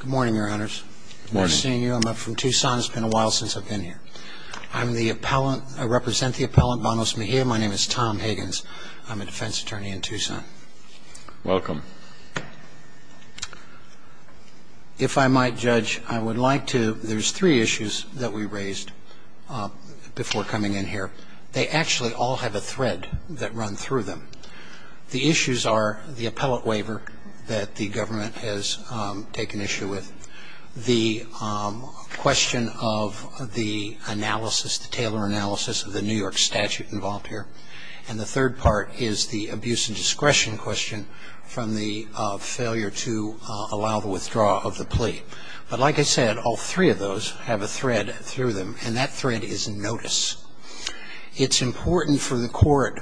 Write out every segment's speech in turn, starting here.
Good morning, Your Honors. Good morning. Nice seeing you. I'm up from Tucson. It's been a while since I've been here. I'm the appellant. I represent the appellant, Banos-Mejia. My name is Tom Higgins. I'm a defense attorney in Tucson. Welcome. If I might, Judge, I would like to – there's three issues that we raised before coming in here. They actually all have a thread that runs through them. The issues are the appellate waiver that the government has taken issue with, the question of the analysis, the Taylor analysis of the New York statute involved here, and the third part is the abuse and discretion question from the failure to allow the withdrawal of the plea. But like I said, all three of those have a thread through them, and that thread is notice. It's important for the court,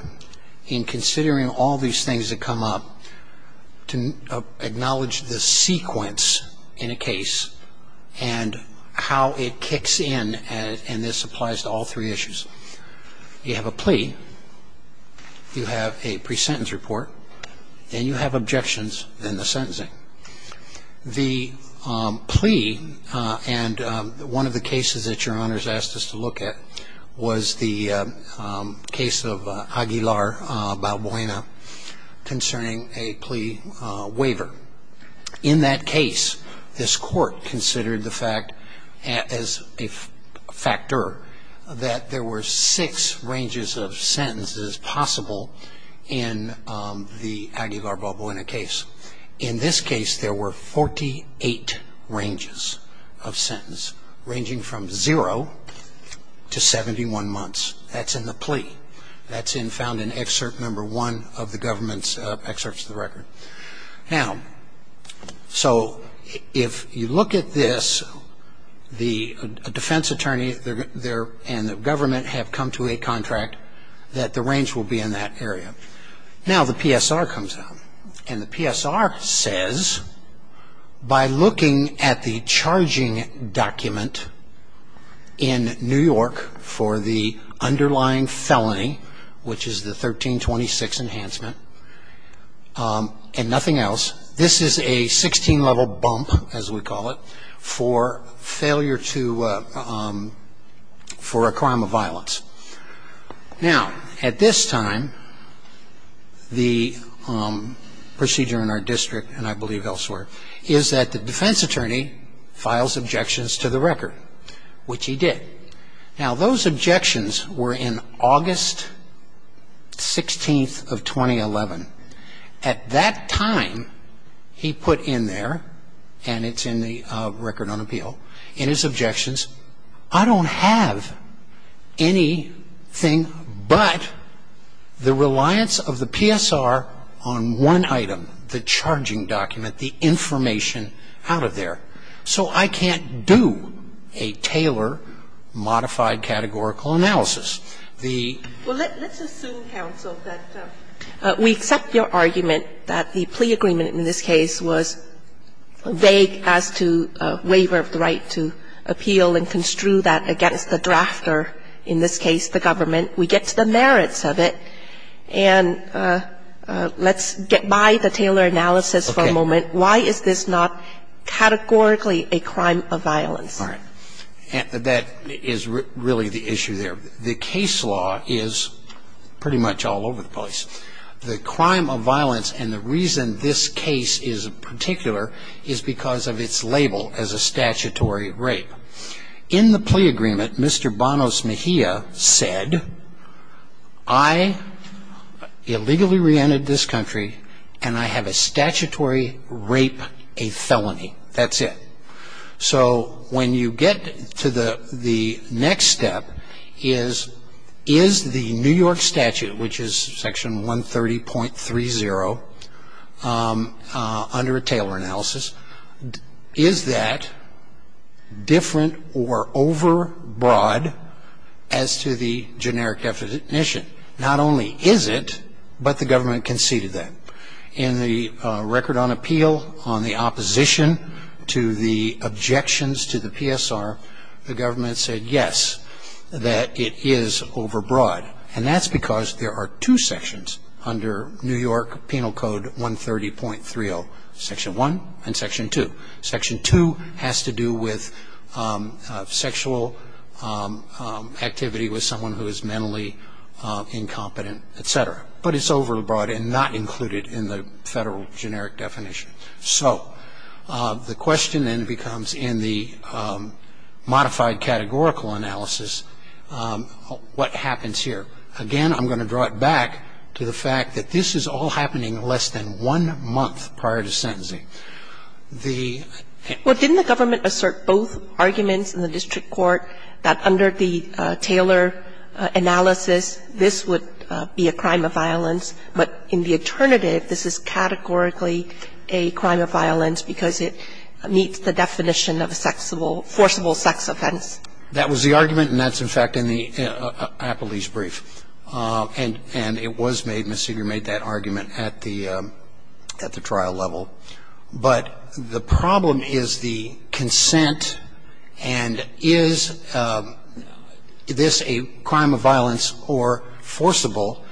in considering all these things that come up, to acknowledge the sequence in a case and how it kicks in, and this applies to all three issues. You have a plea, you have a pre-sentence report, and you have objections in the sentencing. The plea, and one of the cases that Your Honors asked us to look at, was the case of Aguilar-Balboaena concerning a plea waiver. In that case, this court considered the fact as a factor that there were six ranges of sentences possible in the Aguilar-Balboaena case. In this case, there were 48 ranges of sentence, ranging from zero to 71 months. That's in the plea. That's found in excerpt number one of the government's excerpts of the record. Now, so if you look at this, a defense attorney and the government have come to a contract that the range will be in that area. Now, the PSR comes out, and the PSR says, by looking at the charging document in New York for the underlying felony, which is the 1326 enhancement, and nothing else, this is a 16-level bump, as we call it, for failure to, for a crime of violence. Now, at this time, the procedure in our district, and I believe elsewhere, is that the defense attorney files objections to the record, which he did. Now, those objections were in August 16th of 2011. At that time, he put in there, and it's in the record on appeal, in his objections, I don't have anything but the reliance of the PSR on one item, the charging document, the information out of there. So I can't do a Taylor modified categorical analysis. The ---- And so in this case, the PSR's claim is that, yes, we have the charge of failure to file an appeal, and we can go ahead and construe that against the drafter, in this case, the government. We get to the merits of it. And let's get by the Taylor analysis for a moment. Why is this not categorically a crime of violence? All right. That is really the issue there. The case law is pretty much all over the place. The crime of violence and the reason this case is particular is because of its label as a statutory rape. In the plea agreement, Mr. Banos Mejia said, I illegally reentered this country, and I have a statutory rape, a felony. That's it. So when you get to the next step is, is the New York statute, which is section 130.30 under a Taylor analysis, is that different or overbroad as to the generic definition? Not only is it, but the government conceded that. In the record on appeal, on the opposition to the objections to the PSR, the government said yes, that it is overbroad. And that's because there are two sections under New York Penal Code 130.30, section 1 and section 2. Section 2 has to do with sexual activity with someone who is mentally incompetent, et cetera. But it's overbroad and not included in the Federal generic definition. So the question then becomes, in the modified categorical analysis, what happens here? Again, I'm going to draw it back to the fact that this is all happening less than one month prior to sentencing. The ---- Well, didn't the government assert both arguments in the district court that under the Taylor analysis, this would be a crime of violence, but in the alternative, this is categorically a crime of violence because it meets the definition of a sexable, forcible sex offense? That was the argument, and that's, in fact, in the Appellee's brief. And it was made, Ms. Seeger made that argument at the trial level. But the problem is the consent, and is this a crime of violence or forcible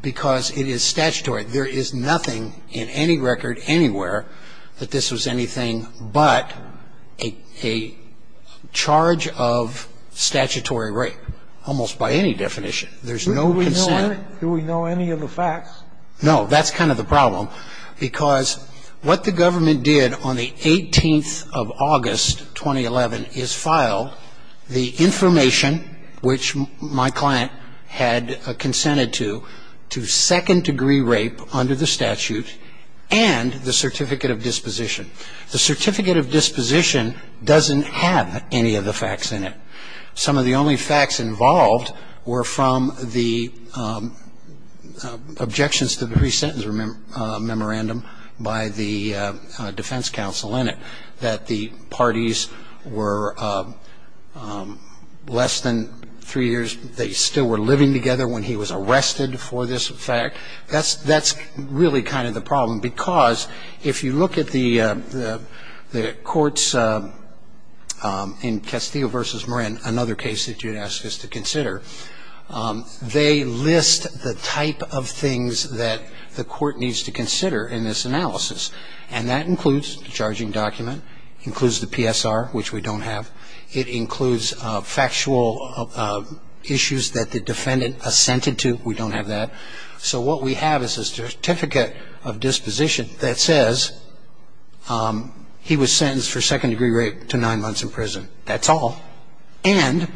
because it is statutory? There is nothing in any record anywhere that this was anything but a charge of statutory rape, almost by any definition. There's no consent. Do we know any of the facts? No. That's kind of the problem because what the government did on the 18th of August 2011 is file the information which my client had consented to, to second-degree rape under the statute and the certificate of disposition. The certificate of disposition doesn't have any of the facts in it. Some of the only facts involved were from the objections to the pre-sentence memorandum by the defense counsel in it, that the parties were less than three years, they still were living together when he was arrested for this fact. That's really kind of the problem because if you look at the courts in Castillo v. Moran, another case that you'd ask us to consider, they list the type of things that the court needs to consider in this analysis, and that includes the charging document, includes the PSR, which we don't have, it includes factual issues that the defendant assented to. We don't have that. So what we have is a certificate of disposition that says he was sentenced for three years, and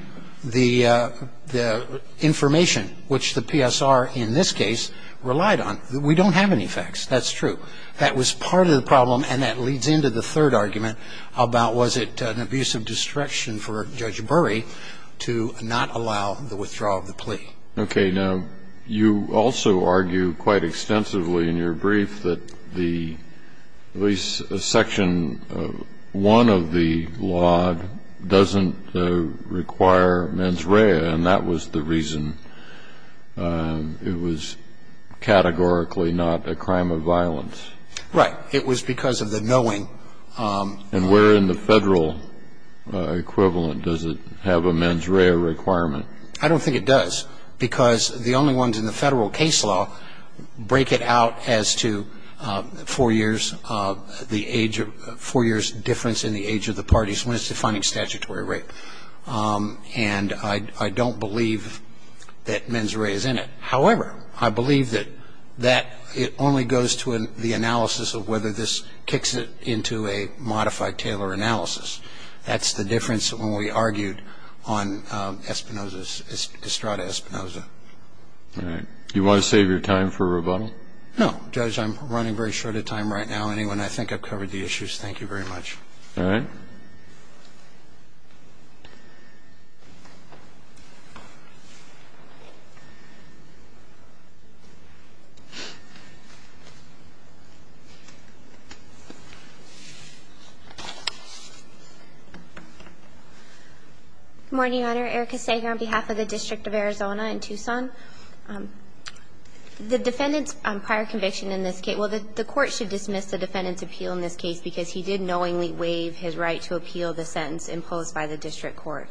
the information which the PSR in this case relied on. We don't have any facts. That's true. That was part of the problem, and that leads into the third argument about was it an abuse of discretion for Judge Burry to not allow the withdrawal of the plea. Okay. Now, you also argue quite extensively in your brief that the, at least Section 1 of the law doesn't require mens rea, and that was the reason it was categorically not a crime of violence. Right. It was because of the knowing. And where in the Federal equivalent does it have a mens rea requirement? I don't think it does, because the only ones in the Federal case law break it out as to four years difference in the age of the parties when it's defining statutory rape. And I don't believe that mens rea is in it. However, I believe that it only goes to the analysis of whether this kicks it into a modified Taylor analysis. That's the difference when we argued on Espinoza's, Estrada Espinoza. All right. Do you want to save your time for rebuttal? No, Judge. I'm running very short of time right now. Anyway, I think I've covered the issues. Thank you very much. All right. Good morning, Your Honor. Erica Sager on behalf of the District of Arizona in Tucson. The defendant's prior conviction in this case – well, the Court should dismiss the defendant's appeal in this case because he did knowingly waive his right to appeal the sentence imposed by the District Court.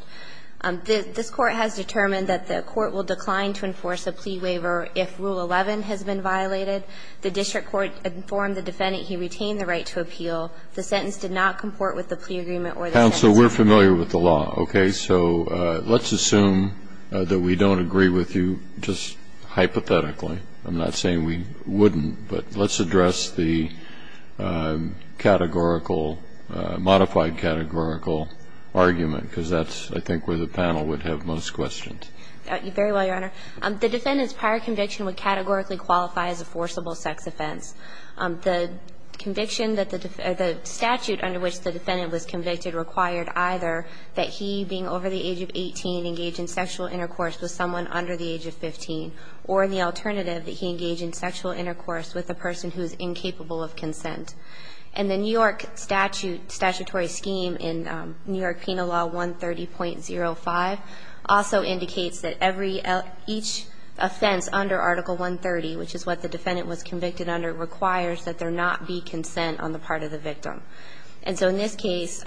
This Court has determined that the Court will decline to enforce a plea waiver if Rule 11 has been violated. The District Court informed the defendant he retained the right to appeal. The sentence did not comport with the plea agreement or the sentence. Counsel, we're familiar with the law, okay? So let's assume that we don't agree with you just hypothetically. I'm not saying we wouldn't, but let's address the categorical – modified categorical argument because that's, I think, where the panel would have most questions. Very well, Your Honor. The defendant's prior conviction would categorically qualify as a forcible sex offense. The conviction that the – the statute under which the defendant was convicted required either that he, being over the age of 18, engage in sexual intercourse with someone under the age of 15, or the alternative, that he engage in sexual intercourse with a person who is incapable of consent. And the New York statute – statutory scheme in New York Penal Law 130.05 also indicates that every – each offense under Article 130, which is what the defendant was convicted under, requires that there not be consent on the part of the victim. And so in this case,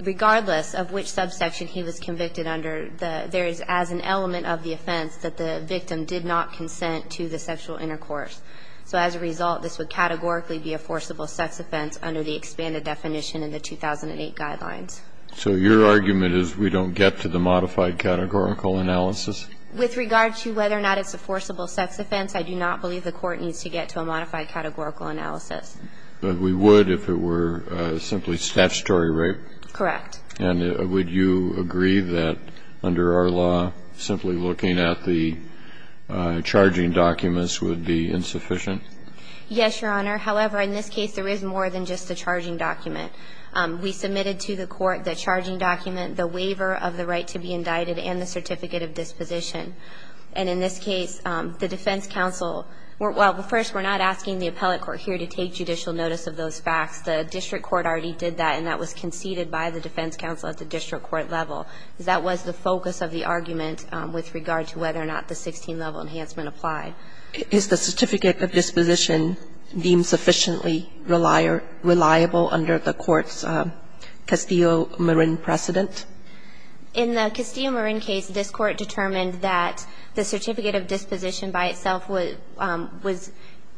regardless of which subsection he was convicted under, there is, as an element of the offense, that the victim did not consent to the sexual intercourse. So as a result, this would categorically be a forcible sex offense under the expanded definition in the 2008 guidelines. So your argument is we don't get to the modified categorical analysis? With regard to whether or not it's a forcible sex offense, I do not believe the Court needs to get to a modified categorical analysis. But we would if it were simply statutory rape? Correct. And would you agree that, under our law, simply looking at the charging documents would be insufficient? Yes, Your Honor. However, in this case, there is more than just the charging document. We submitted to the Court the charging document, the waiver of the right to be indicted, and the certificate of disposition. And in this case, the defense counsel – well, first, we're not asking the appellate court here to take judicial notice of those facts. The district court already did that, and that was conceded by the defense counsel at the district court level. That was the focus of the argument with regard to whether or not the 16-level enhancement applied. Is the certificate of disposition deemed sufficiently reliable under the Court's Castillo-Marin precedent? In the Castillo-Marin case, this Court determined that the certificate of disposition by itself was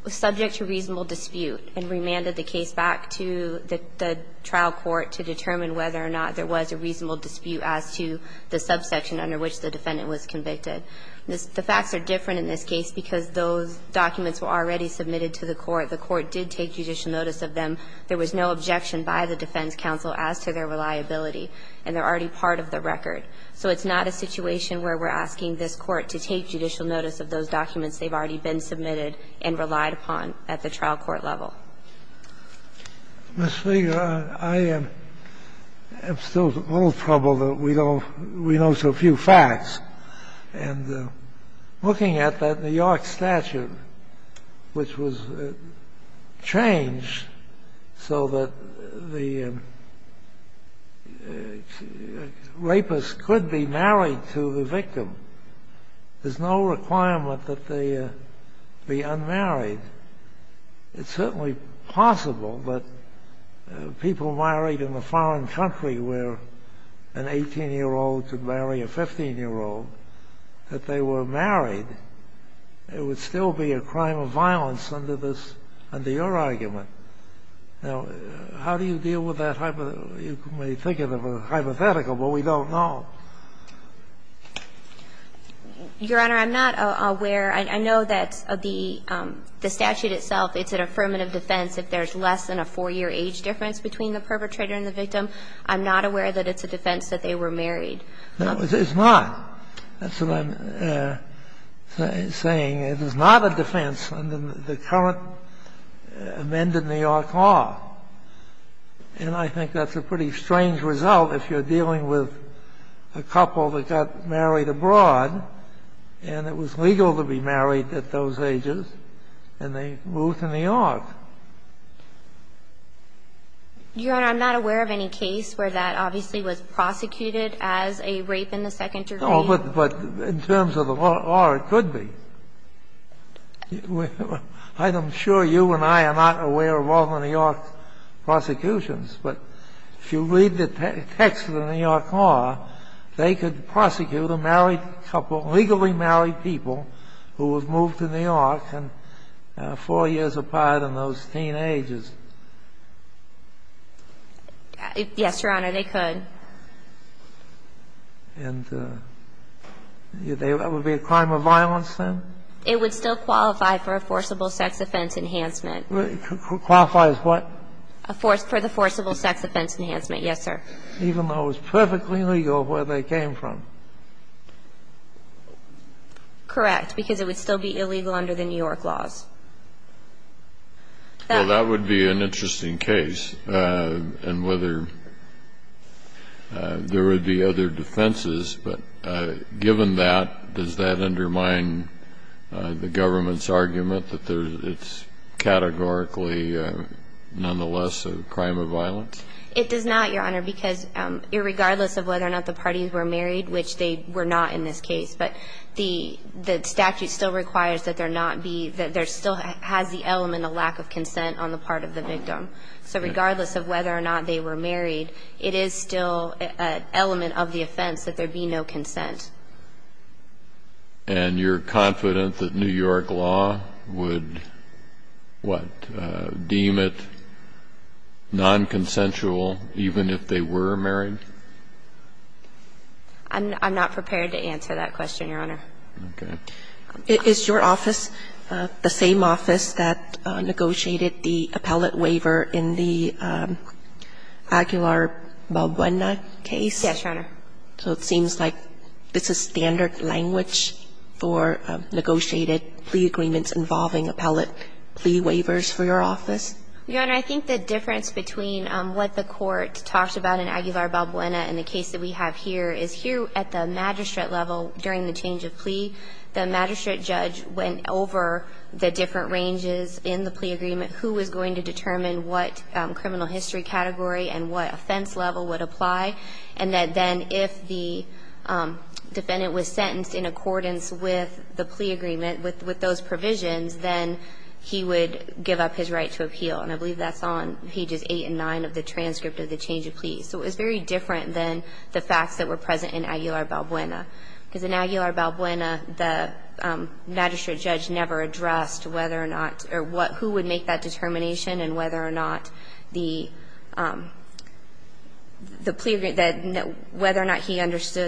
subject to reasonable dispute and remanded the case back to the trial court to determine whether or not there was a reasonable dispute as to the subsection under which the defendant was convicted. The facts are different in this case because those documents were already submitted to the Court. The Court did take judicial notice of them. There was no objection by the defense counsel as to their reliability, and they're already part of the record. So it's not a situation where we're asking this Court to take judicial notice of those documents. They've already been submitted and relied upon at the trial court level. Scalia. I am still a little troubled that we don't we know so few facts. And looking at that New York statute, which was changed so that the rapist could be married to the victim, there's no requirement that they be unmarried. It's certainly possible that people married in a foreign country where an 18-year-old could marry a 15-year-old, that they were married. It would still be a crime of violence under your argument. Now, how do you deal with that hypothetical? You may think of it as hypothetical, but we don't know. Your Honor, I'm not aware. I know that the statute itself, it's an affirmative defense. If there's less than a 4-year age difference between the perpetrator and the victim, I'm not aware that it's a defense that they were married. No, it's not. That's what I'm saying. It is not a defense under the current amended New York law. And I think that's a pretty strange result if you're dealing with a couple that got married abroad, and it was legal to be married at those ages, and they moved to New York. Your Honor, I'm not aware of any case where that obviously was prosecuted as a rape in the second degree. No, but in terms of the law, it could be. I'm sure you and I are not aware of all the New York prosecutions, but if you read the text of the New York law, they could prosecute a married couple, legally married people, who was moved to New York and 4 years apart in those teen ages. Yes, Your Honor, they could. And that would be a crime of violence then? It would still qualify for a forcible sex offense enhancement. Qualify as what? For the forcible sex offense enhancement, yes, sir. Even though it was perfectly legal where they came from? Correct, because it would still be illegal under the New York laws. Well, that would be an interesting case, and whether there would be other defenses, but given that, does that undermine the government's argument that it's categorically nonetheless a crime of violence? It does not, Your Honor, because regardless of whether or not the parties were married, which they were not in this case, but the statute still requires that there not be, that there still has the element of lack of consent on the part of the victim. So regardless of whether or not they were married, it is still an element of the statute that requires that there be no consent. And you're confident that New York law would, what, deem it nonconsensual even if they were married? I'm not prepared to answer that question, Your Honor. Okay. Is your office the same office that negotiated the appellate waiver in the Aguilar Balbuena case? Yes, Your Honor. So it seems like it's a standard language for negotiated plea agreements involving appellate plea waivers for your office? Your Honor, I think the difference between what the court talked about in Aguilar Balbuena and the case that we have here is here at the magistrate level during the change of plea, the magistrate judge went over the different ranges in the plea agreement, who was going to determine what criminal history category and what offense level would apply, and that then if the defendant was sentenced in accordance with the plea agreement, with those provisions, then he would give up his right to appeal. And I believe that's on pages 8 and 9 of the transcript of the change of plea. So it was very different than the facts that were present in Aguilar Balbuena. Because in Aguilar Balbuena, the magistrate judge never addressed whether or not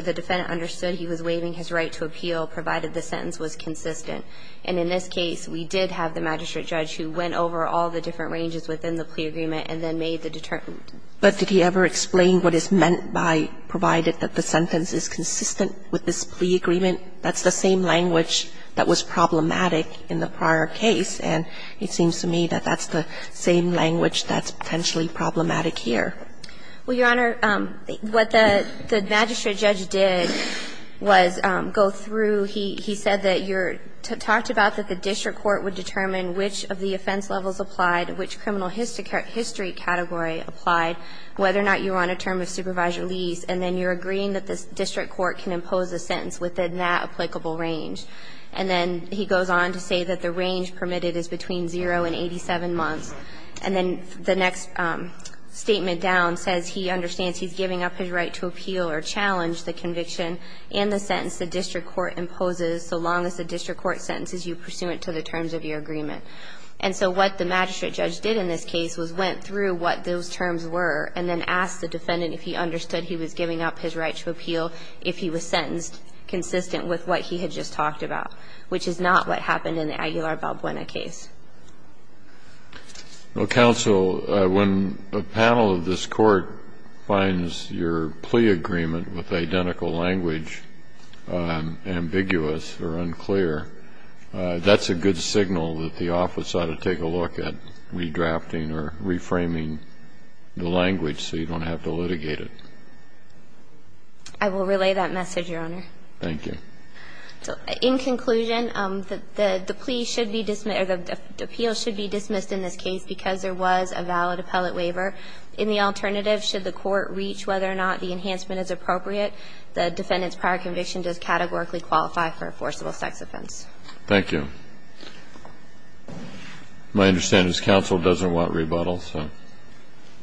the defendant understood he was waiving his right to appeal, provided the sentence was consistent. And in this case, we did have the magistrate judge who went over all the different ranges within the plea agreement and then made the determination. But did he ever explain what is meant by provided that the sentence is consistent with this plea agreement? That's the same language that was problematic in the prior case, and it seems to me that that's the same language that's potentially problematic here. Well, Your Honor, what the magistrate judge did was go through. He said that you're talked about that the district court would determine which of the offense levels applied, which criminal history category applied, whether or not you're on a term of supervised release. And then you're agreeing that the district court can impose a sentence within that applicable range. And then he goes on to say that the range permitted is between 0 and 87 months. And then the next statement down says he understands he's giving up his right to appeal or challenge the conviction and the sentence the district court imposes so long as the district court sentences you pursuant to the terms of your agreement. And so what the magistrate judge did in this case was went through what those terms were and then asked the defendant if he understood he was giving up his right to appeal if he was sentenced consistent with what he had just talked about, which is not what happened in the Aguilar-Balbuena case. Well, counsel, when a panel of this Court finds your plea agreement with identical language ambiguous or unclear, that's a good signal that the office ought to take a look at redrafting or reframing the language so you don't have to litigate it. I will relay that message, Your Honor. Thank you. So in conclusion, the plea should be dismissed or the appeal should be dismissed in this case because there was a valid appellate waiver. In the alternative, should the court reach whether or not the enhancement is appropriate, the defendant's prior conviction does categorically qualify for forcible sex offense. Thank you. My understanding is counsel doesn't want rebuttal, so.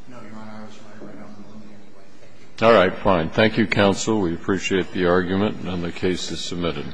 No, Your Honor. I was trying to write off the ruling anyway. All right. Thank you, counsel. We appreciate the argument, and the case is submitted.